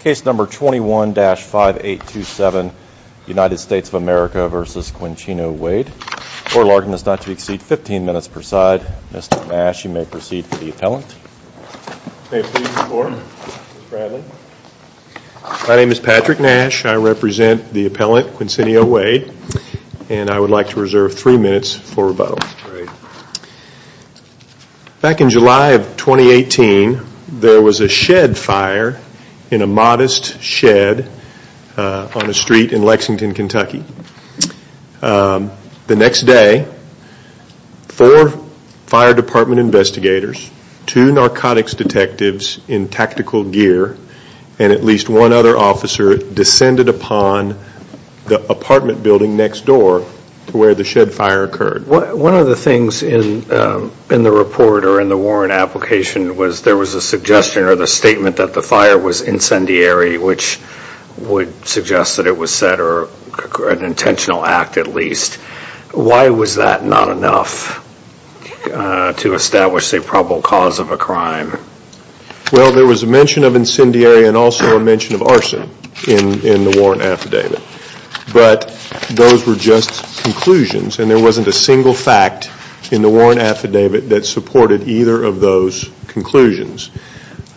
Case number 21-5827, United States of America v. Quincino Waide. Order of largeness not to exceed 15 minutes per side. Mr. Nash, you may proceed for the appellant. My name is Patrick Nash. I represent the appellant, Quincino Waide, and I would like to reserve three minutes for rebuttal. Back in July of 2018, there was a shed fire in a modest shed on a street in Lexington, Kentucky. The next day, four fire department investigators, two narcotics detectives in tactical gear, and at least one other officer descended upon the apartment building next door to where the shed fire occurred. One of the things in the report or in the warrant application was there was a suggestion or the statement that the fire was incendiary, which would suggest that it was said or an intentional act at least. Why was that not enough to establish a probable cause of a crime? Well, there was a mention of incendiary and also a mention of arson in the warrant affidavit, but those were just conclusions and there wasn't a single fact in the warrant affidavit that supported either of those conclusions.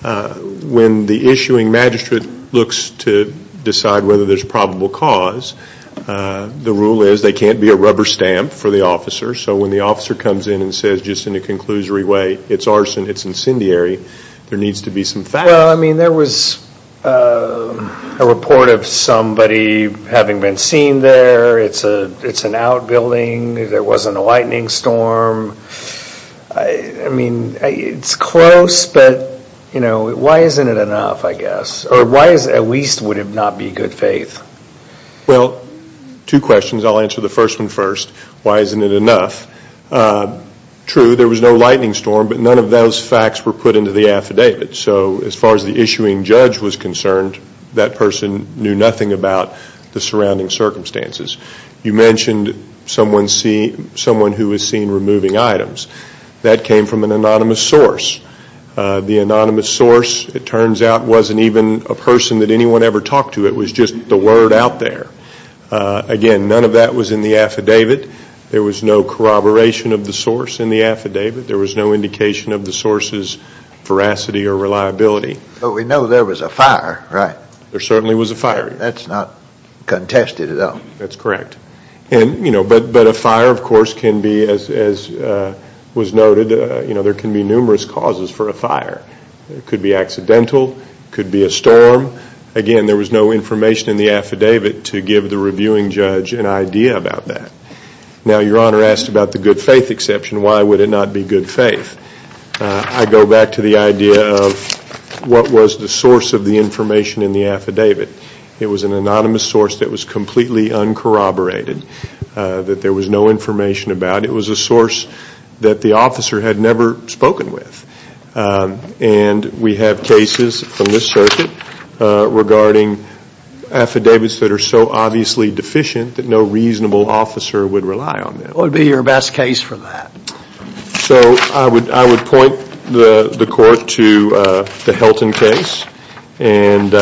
When the issuing magistrate looks to decide whether there's probable cause, the rule is they can't be a rubber stamp for the officer, so when the officer comes in and says just in a conclusory way, it's arson, it's incendiary, there needs to be some fact. Well, I mean there was a report of there wasn't a lightning storm. I mean it's close, but you know, why isn't it enough, I guess, or why at least would it not be good faith? Well, two questions. I'll answer the first one first. Why isn't it enough? True, there was no lightning storm, but none of those facts were put into the affidavit, so as far as the issuing judge was concerned, that person knew nothing about the person who was seen removing items. That came from an anonymous source. The anonymous source, it turns out, wasn't even a person that anyone ever talked to. It was just the word out there. Again, none of that was in the affidavit. There was no corroboration of the source in the affidavit. There was no indication of the source's veracity or reliability. But we know there was a fire, right? There certainly was a fire. That's not contested at all. That's correct, and you know, a fire, of course, can be, as was noted, you know, there can be numerous causes for a fire. It could be accidental, could be a storm. Again, there was no information in the affidavit to give the reviewing judge an idea about that. Now, Your Honor asked about the good faith exception. Why would it not be good faith? I go back to the idea of what was the source of the information in the affidavit. It was an anonymous source that was completely uncorroborated, that there was no information about. It was a source that the officer had never spoken with, and we have cases from this circuit regarding affidavits that are so obviously deficient that no reasonable officer would rely on them. What would be your best case for that? So I would point the court to the Helton case, and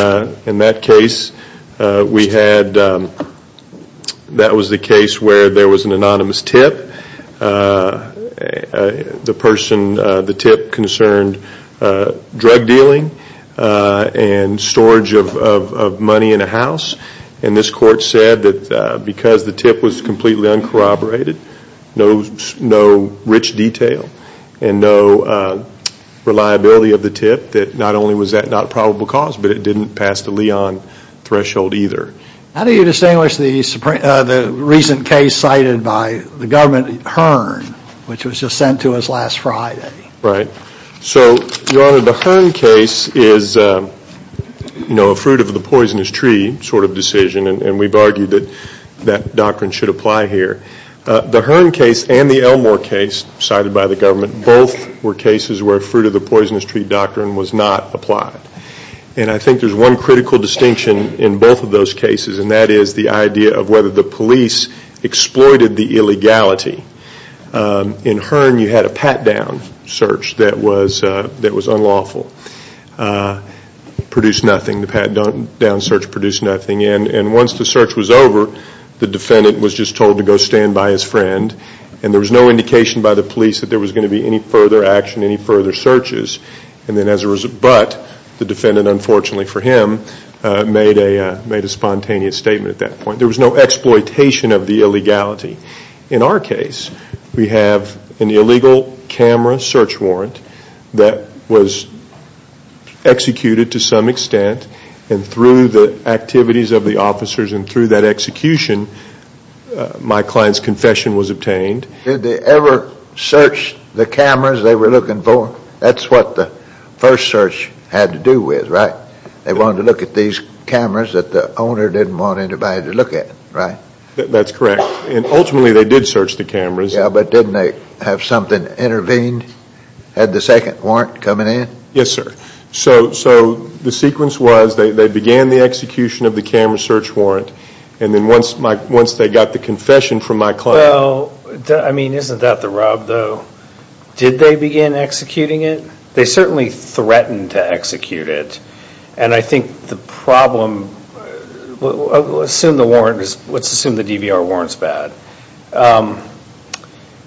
in that case, we had, that was the case where there was an anonymous tip. The person, the tip concerned drug dealing and storage of money in a house, and this court said that because the tip was completely uncorroborated, no rich detail, and no reliability of the tip, that not only was that not a probable cause, but it didn't pass the Leon threshold either. How do you distinguish the recent case cited by the government, Hearn, which was just sent to us last Friday? Right. So, Your Honor, the Hearn case is, you know, a fruit of the poisonous tree sort of decision, and we've argued that that doctrine should apply here. The Hearn case and the Elmore case, cited by the government, both were cases where fruit of the poisonous tree doctrine was not applied. And I think there's one critical distinction in both of those cases, and that is the idea of whether the police exploited the illegality. In Hearn, you had a pat-down search that was unlawful. Produced nothing. The pat-down search produced nothing, and once the search was over, the defendant was just told to go stand by his friend, and there was no indication by the police that there was going to be any further action, any further searches. But the defendant, unfortunately for him, made a spontaneous statement at that point. There was no exploitation of the illegality. In our case, we have an illegal camera search warrant that was executed to some extent, and through the activities of the officers and through that execution, my client's confession was obtained. Did they ever search the camera we're looking for? That's what the first search had to do with, right? They wanted to look at these cameras that the owner didn't want anybody to look at, right? That's correct. And ultimately, they did search the cameras. Yeah, but didn't they have something intervene? Had the second warrant coming in? Yes, sir. So the sequence was they began the execution of the camera search warrant, and then once they got the confession from my client... Well, I mean, isn't that the rub, though? Did they begin executing it? They certainly threatened to execute it, and I think the problem... Let's assume the DVR warrant's bad.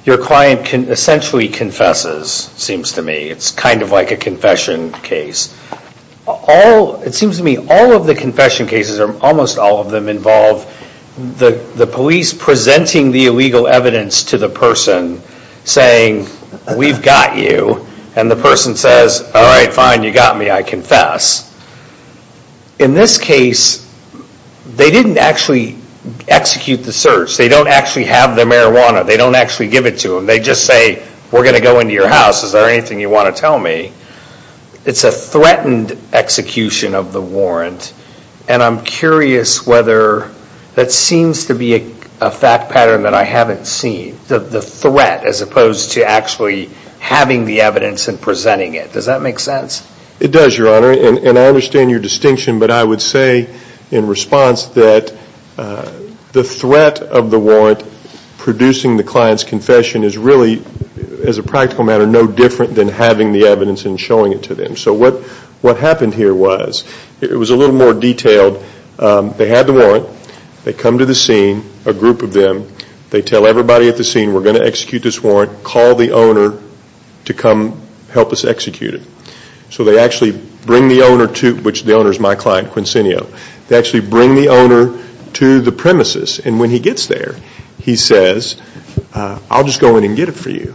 Your client essentially confesses, seems to me. It's kind of like a confession case. It seems to me all of the confession cases, or almost all of them, involve the police presenting the illegal evidence to the person, saying, we've got you, and the person says, all right, fine, you got me, I confess. In this case, they didn't actually execute the search. They don't actually have the marijuana. They don't actually give it to them. They just say, we're going to go into your house. Is there anything you want to tell me? It's a threatened execution of the warrant, and I'm curious whether that seems to be a fact pattern that I haven't seen, the threat, as opposed to actually having the evidence and presenting it. Does that make sense? It does, Your Honor, and I understand your distinction, but I would say in response that the threat of the warrant producing the client's confession is really, as a practical matter, no different than having the evidence and showing it to them. So what happened here was, it was a little more detailed. They had the warrant. They come to the scene, a group of them. They tell everybody at the scene, we're going to execute this warrant. Call the owner to come help us execute it. So they actually bring the owner to, which the owner is my client, Quincinio. They actually bring the owner to the premises, and when he gets there, he says, I'll just go in and get it for you,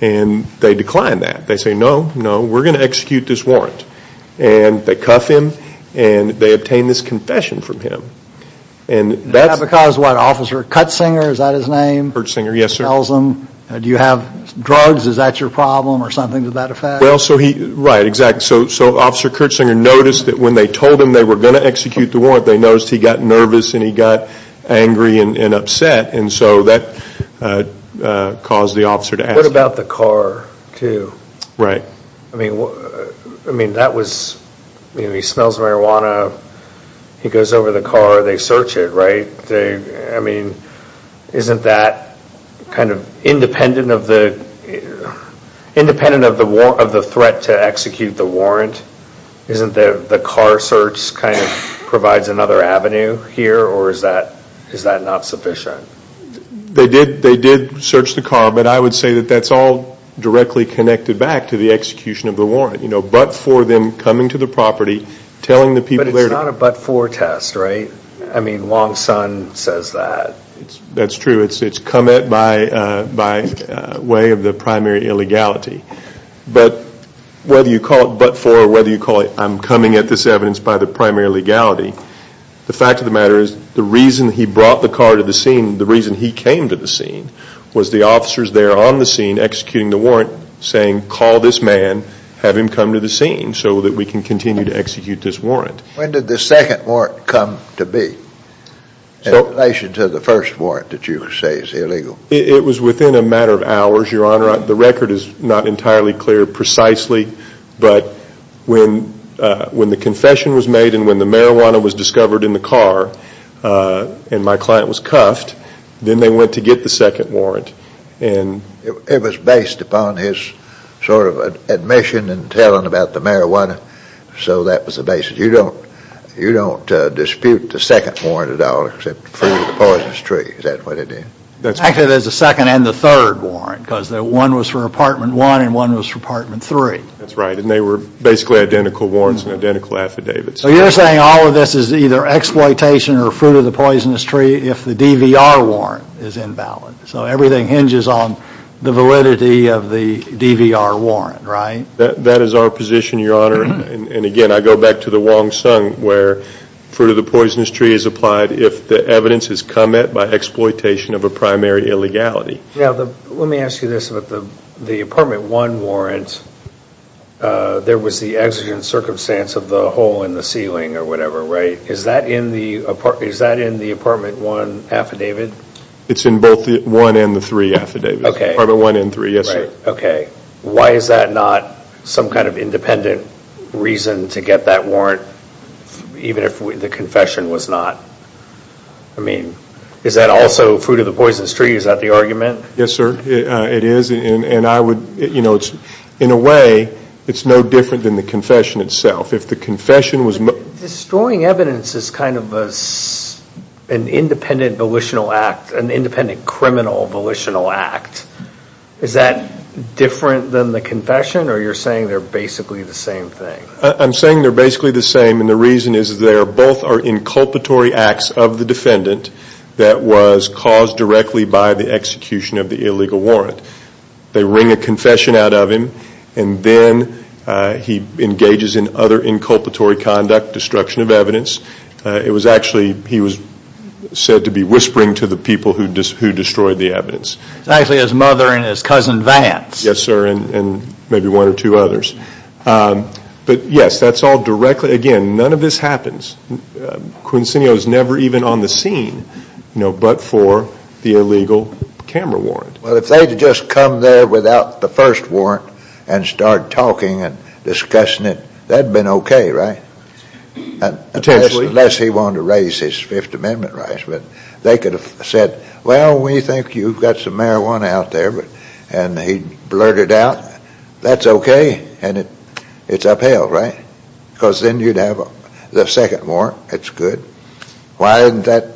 and they decline that. They say, no, no, we're going to execute this warrant, and they cuff him, and they obtain this confession from him. And that's... Because what, Officer Cuttsinger, is that his name? Kurtzinger, yes, sir. Tells them, do you have drugs, is that your problem, or something to that effect? Well, so he, right, exactly. So Officer Kurtzinger noticed that when they told him they were going to execute the warrant, they noticed he got nervous, and he got angry and upset, and so that caused the officer to ask... What about the car, too? Right. I mean, I mean, that was, he smells marijuana, he goes over the car, they search it, right? They, I mean, isn't that kind of independent of the, independent of the war, of the threat to execute the warrant? Isn't the car search kind of provides another avenue here, or is that, is that not sufficient? They did, they did search the car, but I would say that that's all directly connected back to the execution of the warrant. You know, but for them coming to the property, telling the people... But it's not a but-for test, right? I mean, Long Son says that. That's true, it's come at by, by way of the primary illegality. But whether you call it but-for, or whether you call it, I'm coming at this evidence by the fact of the matter is, the reason he brought the car to the scene, the reason he came to the scene, was the officers there on the scene executing the warrant, saying, call this man, have him come to the scene so that we can continue to execute this warrant. When did the second warrant come to be, in relation to the first warrant that you say is illegal? It was within a matter of hours, Your Honor. The record is not entirely clear precisely, but when, when the confession was made and when the marijuana was discovered in the car, and my client was cuffed, then they went to get the second warrant, and... It was based upon his sort of admission and telling about the marijuana, so that was the basis. You don't, you don't dispute the second warrant at all, except for the poisonous tree, is that what it is? Actually, there's a second and the third warrant, because one was for Apartment 1 and one was for Apartment 3. That's right, and they were basically identical warrants and identical affidavits. So you're saying all of this is either exploitation or fruit of the poisonous tree, if the DVR warrant is invalid? So everything hinges on the validity of the DVR warrant, right? That is our position, Your Honor, and again, I go back to the Wong Sung, where fruit of the poisonous tree is applied if the evidence is come at by exploitation of a primary illegality. Now, let me ask you this about the, the Apartment 1 warrant. There was the exigent circumstance of the hole in the ceiling or whatever, right? Is that in the, is that in the Apartment 1 affidavit? It's in both the 1 and the 3 affidavits. Okay. Apartment 1 and 3, yes sir. Okay. Why is that not some kind of independent reason to get that warrant, even if the confession was not, I mean, is that also fruit of the poisonous tree? Is that the argument? Yes sir, it is, and I would, you know, it's, in a way, it's no different than the confession itself. If the confession was... Destroying evidence is kind of an independent volitional act, an independent criminal volitional act. Is that different than the confession, or you're saying they're basically the same thing? I'm saying they're basically the same, and the reason is they're both are inculpatory acts of the defendant that was caused directly by the execution of the illegal warrant. They wring a confession out of him, and then he engages in other inculpatory conduct, destruction of evidence. It was actually, he was said to be whispering to the people who destroyed the evidence. It's actually his mother and his cousin Vance. Yes sir, and maybe one or two others, but yes, that's all directly, again, none of this happens. Quincinio is never even on the scene, you illegal camera warrant. Well, if they'd just come there without the first warrant and start talking and discussing it, that'd been okay, right? Potentially. Unless he wanted to raise his Fifth Amendment rights, but they could have said, well, we think you've got some marijuana out there, but, and he blurted out, that's okay, and it, it's upheld, right? Because then you'd have a second warrant, it's good. Why isn't that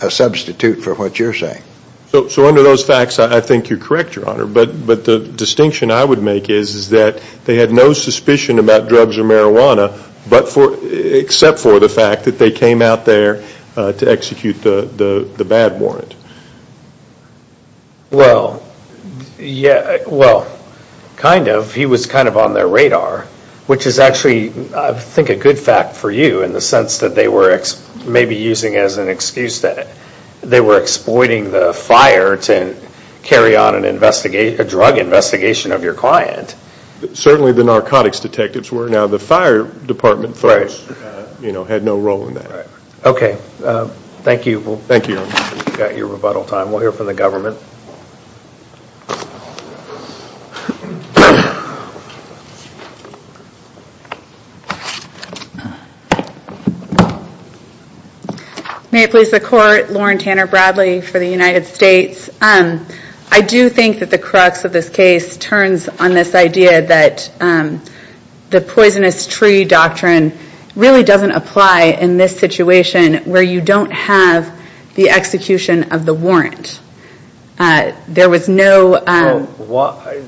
a substitute for what you're saying? So, so under those facts, I think you're correct, Your Honor, but, but the distinction I would make is, is that they had no suspicion about drugs or marijuana, but for, except for the fact that they came out there to execute the, the, the bad warrant. Well, yeah, well, kind of. He was kind of on their radar, which is actually, I think, a good fact for you in the sense that they were maybe using as an excuse that they were exploiting the fire to carry on an investigation, a drug investigation of your client. Certainly, the narcotics detectives were. Now, the fire department folks, you know, had no role in that. Okay, thank you. Thank you, Your Honor. We've got your rebuttal time. We'll hear from the government. May it please the Court, Lauren Tanner Bradley for the United States. I do think that the crux of this case turns on this idea that the poisonous tree doctrine really doesn't apply in this situation where you don't have the execution of the warrant. There was no. Why?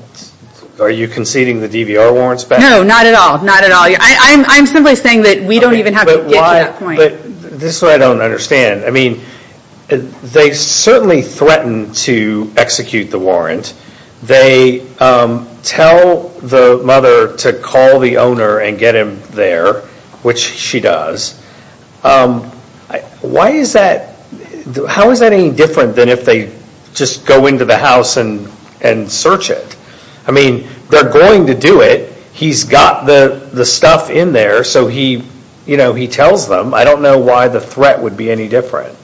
Are you conceding the DVR warrants back? No, not at all. I'm simply saying that we don't even have to get to that point. This is what I don't understand. I mean, they certainly threatened to execute the warrant. They tell the mother to call the owner and get him there, which she does. Why is that? How is that any different than if they just go into the house and search it? I mean, they're going to do it. He's got the stuff in there, so he, you know, he tells them. I don't know why the threat would be any different.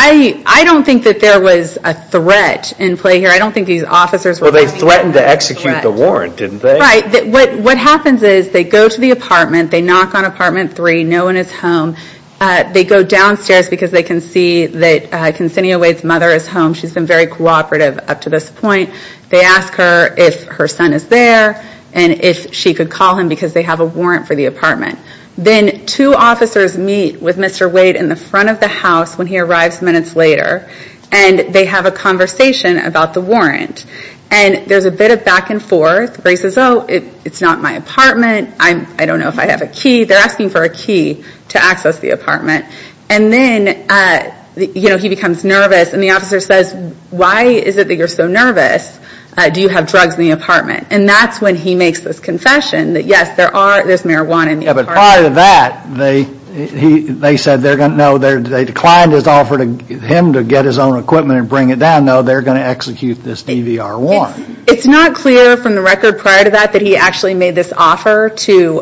I don't think that there was a threat in play here. I don't think these officers were going to be a threat. Well, they threatened to execute the warrant, didn't they? Right. What happens is they go to the apartment. They knock on apartment 3. No one is home. They go downstairs because they can see that her son is there and if she could call him because they have a warrant for the apartment. Then two officers meet with Mr. Wade in the front of the house when he arrives minutes later and they have a conversation about the warrant. There's a bit of back and forth. Grace says, oh, it's not my apartment. I don't know if I have a key. They're asking for a key to access the apartment. Then he becomes nervous and the officer says, why is it that you're nervous? Do you have drugs in the apartment? That's when he makes this confession that yes, there's marijuana in the apartment. Prior to that, they said, no, they declined his offer to him to get his own equipment and bring it down. No, they're going to execute this DVR warrant. It's not clear from the record prior to that that he actually made this offer to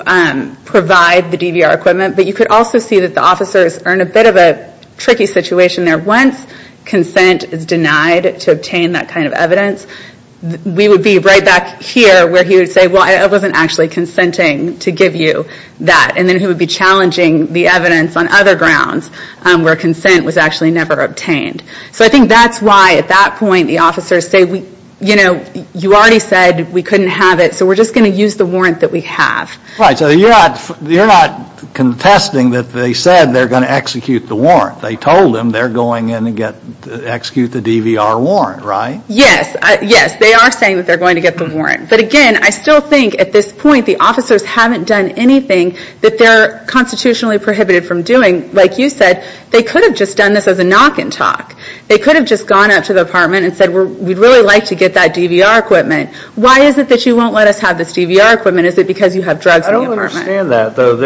provide the DVR equipment, but you could also see that the officers are in a bit of a tricky situation there. Once consent is denied to obtain that kind of evidence, we would be right back here where he would say, well, I wasn't actually consenting to give you that. And then he would be challenging the evidence on other grounds where consent was actually never obtained. So I think that's why at that point the officers say, you know, you already said we couldn't have it, so we're just going to use the warrant that we have. Right. So you're not contesting that they said they're going to execute the warrant. They told him they're going in to execute the DVR warrant, right? Yes. Yes, they are saying that they're going to get the warrant. But again, I still think at this point the officers haven't done anything that they're constitutionally prohibited from doing. Like you said, they could have just done this as a knock and talk. They could have just gone up to the apartment and said, we'd really like to get that DVR equipment. Why is it that you won't let us have this DVR equipment? Is it because you have drugs in the apartment? I don't understand that, though.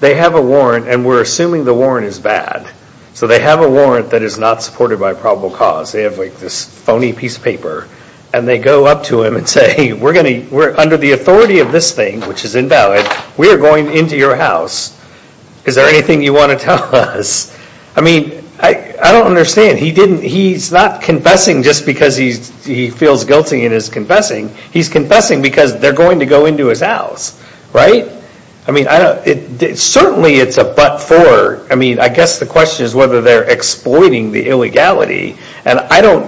They have a warrant and we're assuming the warrant is bad. So they have a warrant that is not supported by probable cause. They have like this phony piece of paper and they go up to him and say, we're going to, under the authority of this thing, which is invalid, we are going into your house. Is there anything you want to tell us? I mean, I don't understand. He's not confessing just because he feels guilty in his confessing. He's confessing because they're going to go into his house, right? I mean, certainly it's a but for. I mean, I guess the question is whether they're exploiting the illegality. And I don't,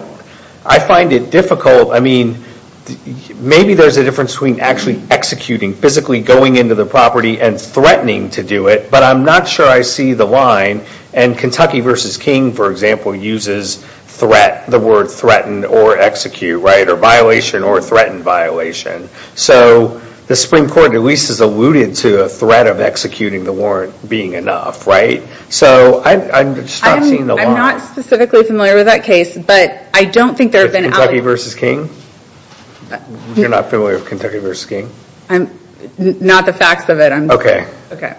I find it difficult. I mean, maybe there's a difference between actually executing, physically going into the property and threatening to do it. But I'm not sure I see the line. And Kentucky v. King, for example, uses threat, the word threatened or execute, right? Or violation or threatened violation. So the Supreme Court at least has alluded to a threat of executing the warrant being enough, right? So I'm just not seeing the line. I'm not specifically familiar with that case, but I don't think there have been... Kentucky v. King? You're not familiar with Kentucky v. King? Not the facts of it. Okay. Okay.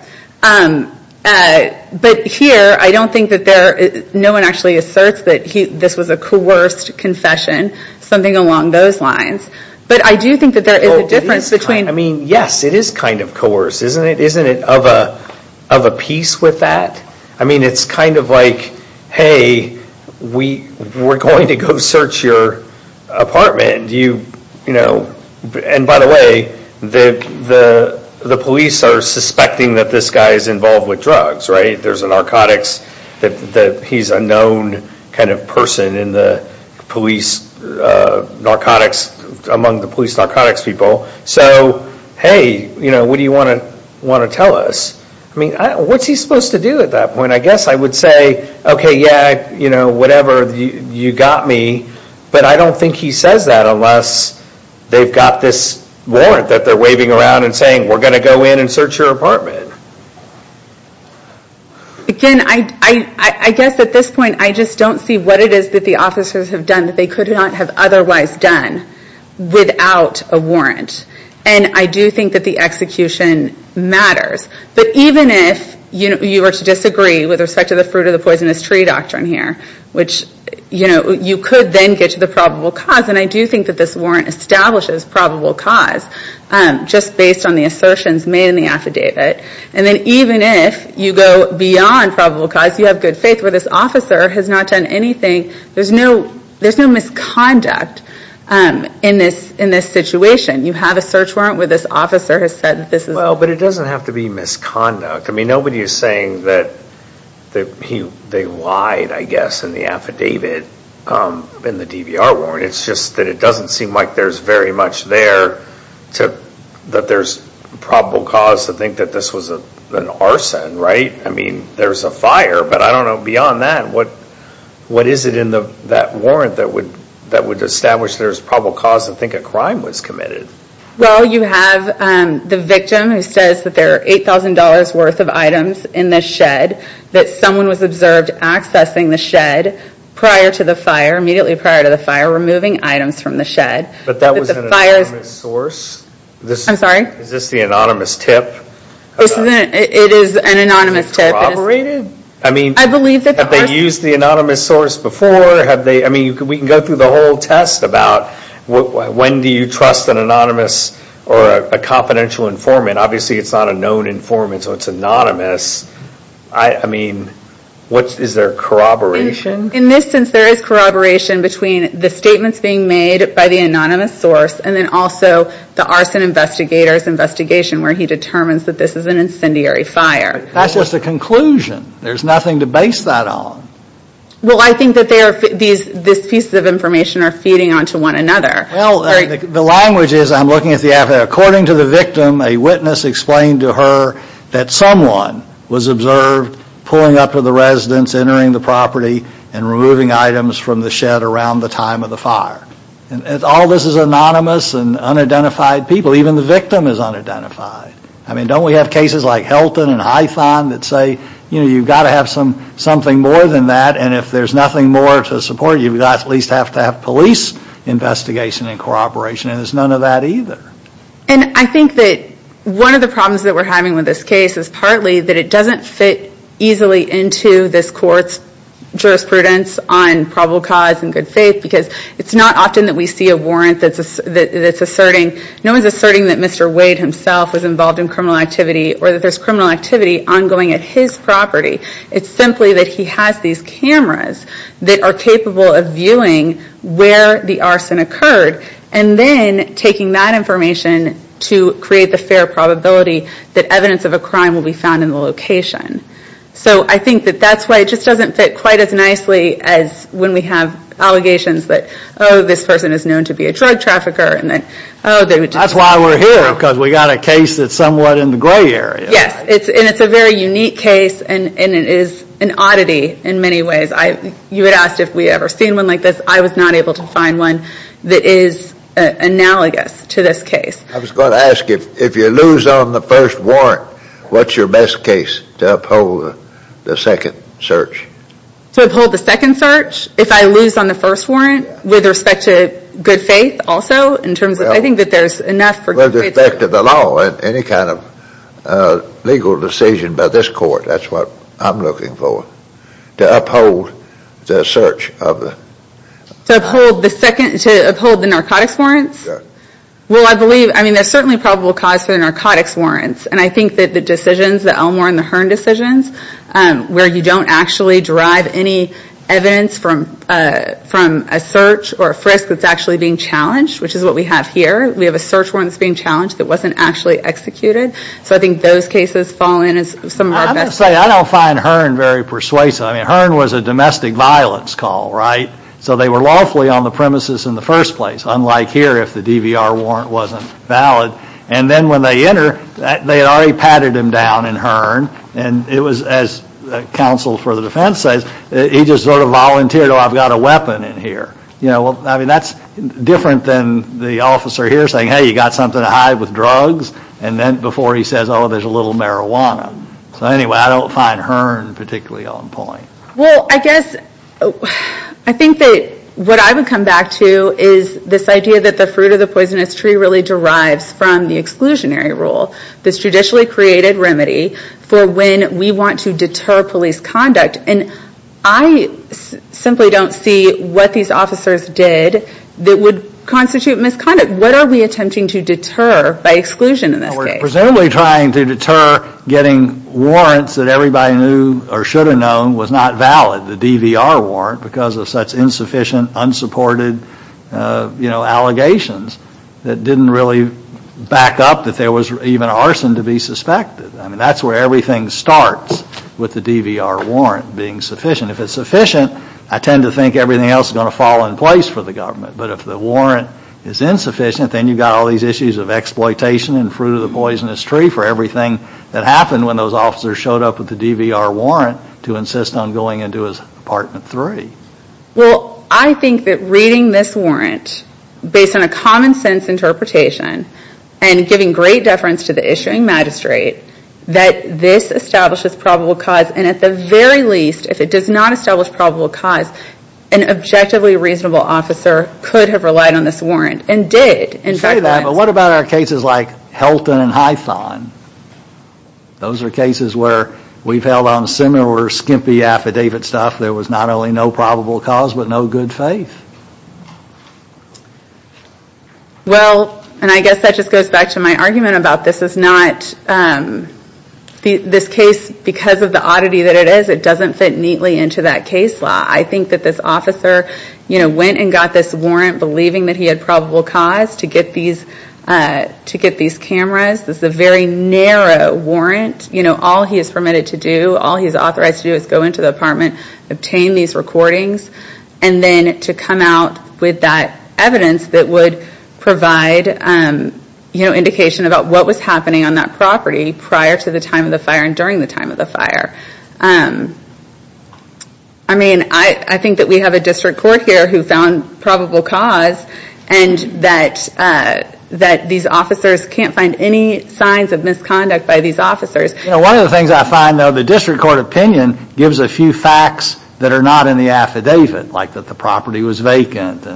But here, I don't think that there, no one actually asserts that this was a coerced confession, something along those lines. But I do think that there is a difference between... I mean, yes, it is kind of coerced, isn't it? Isn't it of a piece with that? I mean, it's kind of like, hey, we're going to go search your apartment. And by the way, the police are suspecting that this guy is involved with drugs, right? There's a narcotics that he's a known kind of person in the police narcotics, among the police narcotics people. So hey, what do you want to tell us? I mean, what's he supposed to do at that point? I guess I would say, okay, yeah, whatever, you got me. But I don't think he says that unless they've got this around and saying, we're going to go in and search your apartment. Again, I guess at this point, I just don't see what it is that the officers have done that they could not have otherwise done without a warrant. And I do think that the execution matters. But even if you were to disagree with respect to the fruit of the poisonous tree doctrine here, which you could then get to the probable cause. And I do think that this warrant establishes a probable cause, just based on the assertions made in the affidavit. And then even if you go beyond probable cause, you have good faith where this officer has not done anything. There's no misconduct in this situation. You have a search warrant where this officer has said this is... Well, but it doesn't have to be misconduct. I mean, nobody is saying that they lied, I guess, in the affidavit, in the DVR warrant. It's just that it doesn't seem like there's very much there that there's probable cause to think that this was an arson, right? I mean, there's a fire, but I don't know, beyond that, what is it in that warrant that would establish there's probable cause to think a crime was committed? Well, you have the victim who says that there are $8,000 worth of items in the shed, that someone was observed accessing the shed prior to the fire, immediately prior to the fire, removing items from the shed. But that was an anonymous source? I'm sorry? Is this the anonymous tip? It is an anonymous tip. Corroborated? I believe that the person... I mean, have they used the anonymous source before? I mean, we can go through the whole test about when do you trust an anonymous or a confidential informant? Obviously, it's not a known informant, so it's anonymous. I mean, is there corroboration? In this sense, there is corroboration between the statements being made by the anonymous source and then also the arson investigator's investigation where he determines that this is an incendiary fire. That's just a conclusion. There's nothing to base that on. Well, I think that this piece of information are feeding onto one another. Well, the language is, I'm looking at the affidavit, according to the victim, a witness explained to her that someone was observed pulling up to the residence, entering the property, and removing items from the shed around the time of the fire. All this is anonymous and unidentified people. Even the victim is unidentified. I mean, don't we have cases like Helton and Hython that say, you've got to have something more than that, and if there's nothing more to support, you've got to at least have police investigation and corroboration, and there's none of that either. And I think that one of the problems that we're having with this case is partly that it doesn't fit easily into this court's jurisprudence on probable cause and good faith because it's not often that we see a warrant that's asserting, no one's asserting that Mr. Wade himself was involved in criminal activity or that there's criminal activity ongoing at his property. It's simply that he has these cameras that are capable of viewing where the arson occurred and then taking that information to create the fair probability that evidence of a crime will be found in the location. So I think that that's why it just doesn't fit quite as nicely as when we have allegations that, oh, this person is known to be a drug trafficker and that, oh, they were just... That's why we're here because we've got a case that's somewhat in the gray area. Yes, and it's a very unique case and it is an oddity in many ways. You had asked if we had ever seen one like this. I was not able to find one that is analogous to this case. I was going to ask if you lose on the first warrant, what's your best case to uphold the second search? To uphold the second search? If I lose on the first warrant with respect to good faith also in terms of... I think that there's enough for good faith... Well, with respect to the law and any kind of legal decision by this court, that's what I'm looking for, to uphold the search of the... To uphold the narcotics warrants? Yes. Well, I believe... I mean, there's certainly probable cause for the narcotics warrants and I think that the decisions, the Elmore and the Hearn decisions, where you don't actually derive any evidence from a search or a frisk that's actually being challenged, which is what we have here. We have a search warrant that's being challenged that wasn't actually executed. So I think those cases fall in as some of our best... I have to say, I don't find Hearn very persuasive. I mean, Hearn was a domestic violence call, right? So they were lawfully on the premises in the first place, unlike here if the DVR warrant wasn't valid. And then when they enter, they had already patted him down in Hearn and it was, as counsel for the defense says, he just sort of volunteered, oh, I've got a weapon in here. I mean, that's different than the officer here saying, hey, you got something to hide with drugs? And then before he says, oh, there's a little marijuana. So anyway, I don't find Hearn particularly on point. Well, I guess, I think that what I would come back to is this idea that the fruit of the poisonous tree really derives from the exclusionary rule, this judicially created remedy for when we want to deter police conduct. And I simply don't see what these officers did that would constitute misconduct. What are we attempting to deter by exclusion in this case? Presumably trying to deter getting warrants that everybody knew or should have known was not valid, the DVR warrant, because of such insufficient, unsupported, you know, allegations that didn't really back up that there was even arson to be suspected. I mean, that's where everything starts with the DVR warrant being sufficient. If it's sufficient, I tend to think everything else is going to fall in place for the government. But if the warrant is insufficient, then you've got all these issues of exploitation and fruit of the poisonous tree for everything that happened when those officers showed up with the DVR warrant to insist on going into his apartment three. Well, I think that reading this warrant based on a common sense interpretation and giving great deference to the issuing magistrate, that this establishes probable cause. And at the very least, if it does not establish probable cause, an objectively reasonable officer could have relied on this warrant and did. You say that, but what about our cases like Helton and Hython? Those are cases where we've held on similar skimpy affidavit stuff. There was not only no probable cause, but no good faith. Well, and I guess that just goes back to my argument about this is not, this case, because of the oddity that it is, it doesn't fit neatly into that case law. I think that this officer, you know, went and got this warrant believing that he had probable cause to get these cameras. This is a very narrow warrant. You know, all he is permitted to do, all he is authorized to do is go into the apartment, obtain these recordings, and then to come out with that evidence that would provide, you know, indication about what was happening on that property prior to the time of the fire and during the time of the fire. I mean, I think that we have a district court here who found probable cause and that these officers can't find any signs of misconduct by these officers. You know, one of the things I find, though, the district court opinion gives a few facts that are not in the affidavit, like that the property was vacant.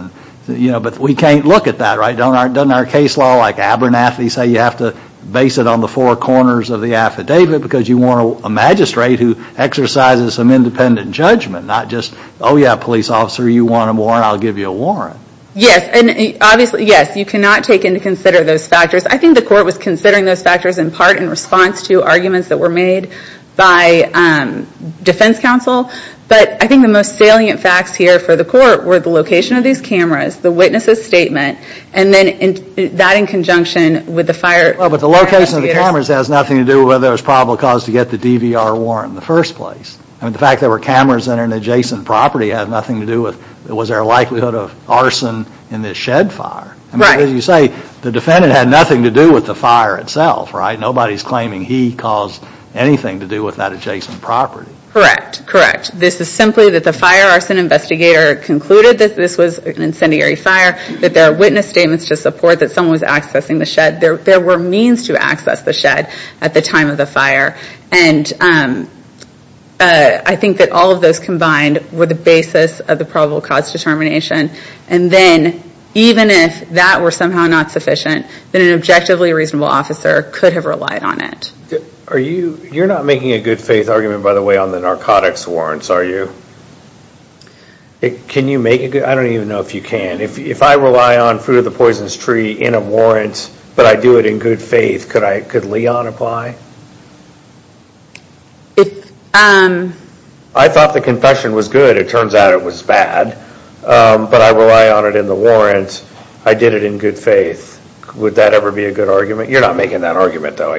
You know, but we can't look at that, right? Doesn't our case law like Abernathy say you have to base it on the four corners of the affidavit because you want a magistrate who exercises some independent judgment, not just, oh, yeah, police officer, you want a warrant, I'll give you a warrant. Yes, and obviously, yes, you cannot take into consider those factors. I think the court was considering those factors in part in response to arguments that were made by defense counsel, but I think the most salient facts here for the court were the location of these cameras, the witness's statement, and then that in conjunction with the fire. Well, but the location of the cameras has nothing to do with whether there was probable cause to get the DVR warrant in the first place. I mean, the fact that there were cameras in an adjacent property had nothing to do with was there a likelihood of arson in this shed fire. Right. I mean, as you say, the defendant had nothing to do with the fire itself, right? Nobody is claiming he caused anything to do with that adjacent property. Correct, correct. This is simply that the fire arson investigator concluded that this was an incendiary fire, that there are witness statements to support that someone was accessing the shed. There were means to access the shed at the time of the fire, and I think that all of those combined were the basis of the probable cause determination, and then even if that were somehow not sufficient, then an objectively reasonable officer could have relied on it. You're not making a good faith argument, by the way, on the narcotics warrants, are you? Can you make a good, I don't even know if you can. If I rely on Fruit of the Poisonous Tree in a warrant, but I do it in good faith, could Leon apply? I thought the confession was good, it turns out it was bad, but I rely on it in the warrant, I did it in good faith. Would that ever be a good argument? You're not making that argument though.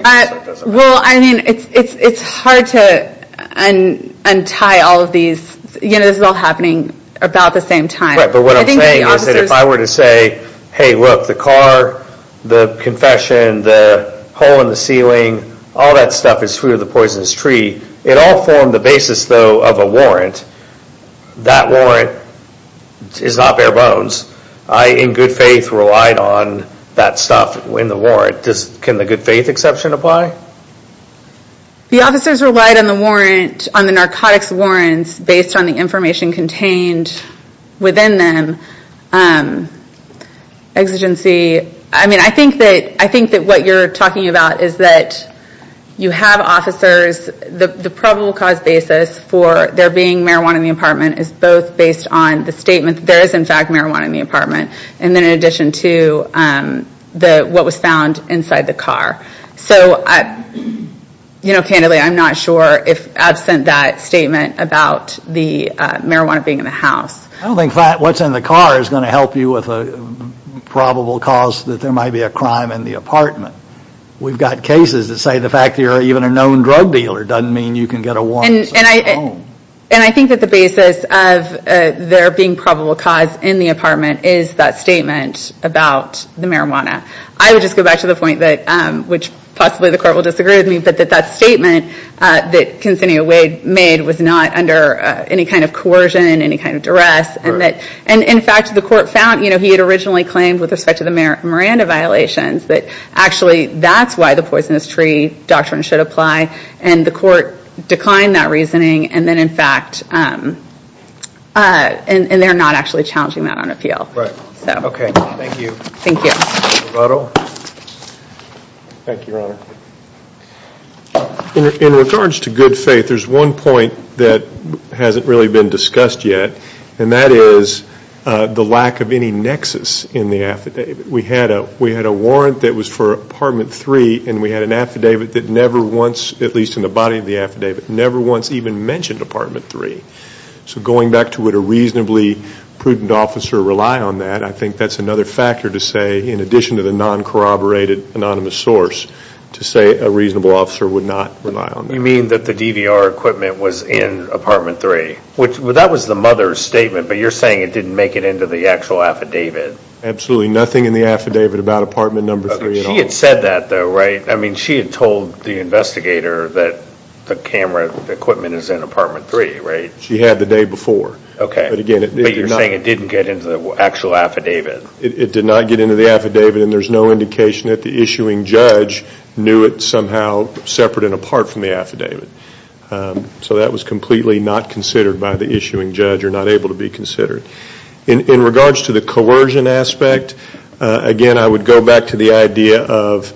Well, I mean, it's hard to untie all of these, you know, this is all happening about the same time. Right, but what I'm saying is that if I were to say, hey look, the car, the confession, the hole in the ceiling, all that stuff is Fruit of the Poisonous Tree, it all formed the basis though of a warrant, that warrant is not bare bones. I, in good faith, relied on that stuff in the warrant. Can the good faith exception apply? The officers relied on the warrant, on the narcotics warrants, based on the information contained within them. Exigency, I mean, I think that what you're talking about is that you have officers, the probable cause basis for there being marijuana in the apartment is both based on the statement, there is in fact marijuana in the apartment, and in addition to what was found inside the car. So, you know, candidly, I'm not sure if absent that marijuana being in the house. I don't think what's in the car is going to help you with a probable cause that there might be a crime in the apartment. We've got cases that say the fact that you're even a known drug dealer doesn't mean you can get a warrant. And I think that the basis of there being probable cause in the apartment is that statement about the marijuana. I would just go back to the point that, which possibly the court will disagree with me, but that that statement that Consignio Wade made was not under any kind of coercion, any kind of duress, and in fact the court found, you know, he had originally claimed with respect to the Miranda violations that actually that's why the poisonous tree doctrine should apply, and the court declined that reasoning, and then in fact, and they're not actually challenging that on appeal. Right. Okay. Thank you. Thank you. Roberto. Thank you, Your Honor. In regards to good faith, there's one point that hasn't really been discussed yet, and that is the lack of any nexus in the affidavit. We had a warrant that was for apartment three, and we had an affidavit that never once, at least in the body of the affidavit, never once even mentioned apartment three. So going back to would a reasonably prudent officer rely on that, I think that's another factor to say, in addition to the non-corroborated anonymous source, to say a reasonable officer would not rely on that. You mean that the DVR equipment was in apartment three. That was the mother's statement, but you're saying it didn't make it into the actual affidavit. Absolutely. Nothing in the affidavit about apartment number three at all. Okay. She had said that though, right? I mean, she had told the investigator that the camera equipment is in apartment three, right? She had the day before. Okay. But again, it did not. But you're saying it didn't get into the actual affidavit. It did not get into the affidavit and there's no indication that the issuing judge knew it somehow separate and apart from the affidavit. So that was completely not considered by the issuing judge or not able to be considered. In regards to the coercion aspect, again I would go back to the idea of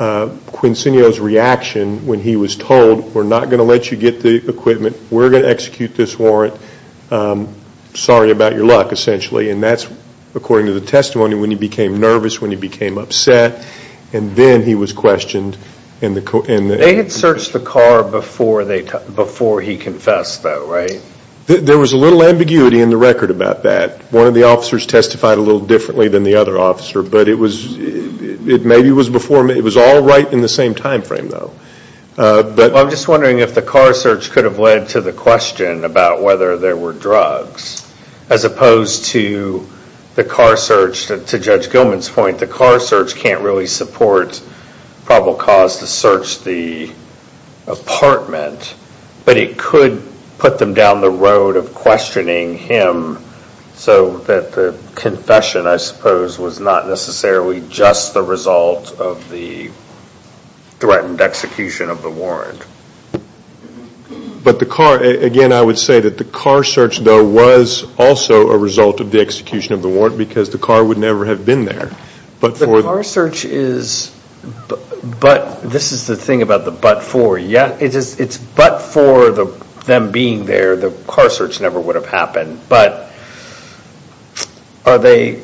Quincinio's reaction when he was told, we're not going to let you get the equipment, we're going to execute this warrant, sorry about your luck essentially, and that's according to the testimony when he became nervous, when he became upset, and then he was questioned. They had searched the car before he confessed though, right? There was a little ambiguity in the record about that. One of the officers testified a little differently than the other officer, but it was, it maybe was before, it was all right in the same time frame though. I'm just wondering if the car search could have led to the question about whether there were drugs as opposed to the car search, to Judge Gilman's point, the car search can't really support probable cause to search the apartment, but it could put them down the road of questioning him so that the confession I suppose was not necessarily just the result of the threatened execution of the warrant. But the car, again I would say that the car search though was also a result of the execution of the warrant because the car would never have been there. The car search is, but, this is the thing about the but for, yeah, it's but for them being there, the car search never would have happened, but are they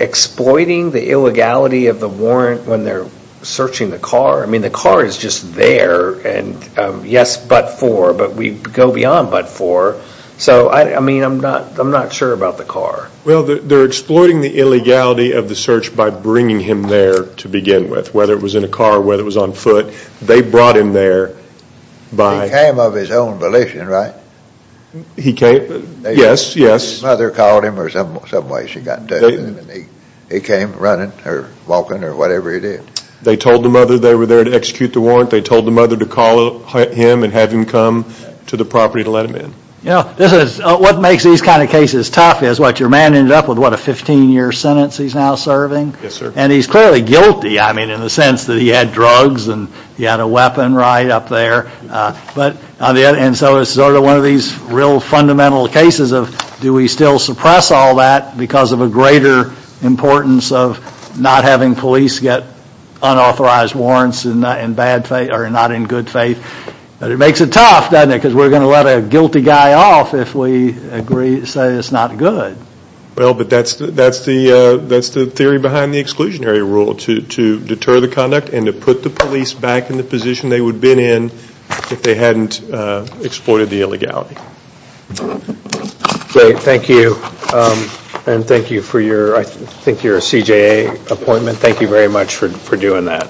exploiting the illegality of the warrant when they're searching the car? I mean the car is just there and yes but for, but we go beyond but for, so I mean I'm not sure about the car. Well they're exploiting the illegality of the search by bringing him there to begin with, whether it was in a car, whether it was on foot, they brought him there by- He came of his own volition, right? He came, yes, yes. His mother called him or some way she got to him and he came running or walking or whatever he did. They told the mother they were there to execute the warrant. They told the mother to call him and have him come to the property to let him in. Yeah, this is, what makes these kind of cases tough is what your man ended up with, what a 15 year sentence he's now serving? Yes sir. And he's clearly guilty, I mean in the sense that he had drugs and he had a weapon right up there. And so it's sort of one of these real fundamental cases of do we still suppress all that because of a greater importance of not having police get unauthorized warrants and not in good faith. But it makes it tough doesn't it because we're going to let a guilty guy off if we say it's not good. Well but that's the theory behind the exclusionary rule to deter the conduct and to put the police back in the position they would have been in if they hadn't exploited the illegality. Thank you and thank you for your, I think your CJA appointment. Thank you very much for doing that.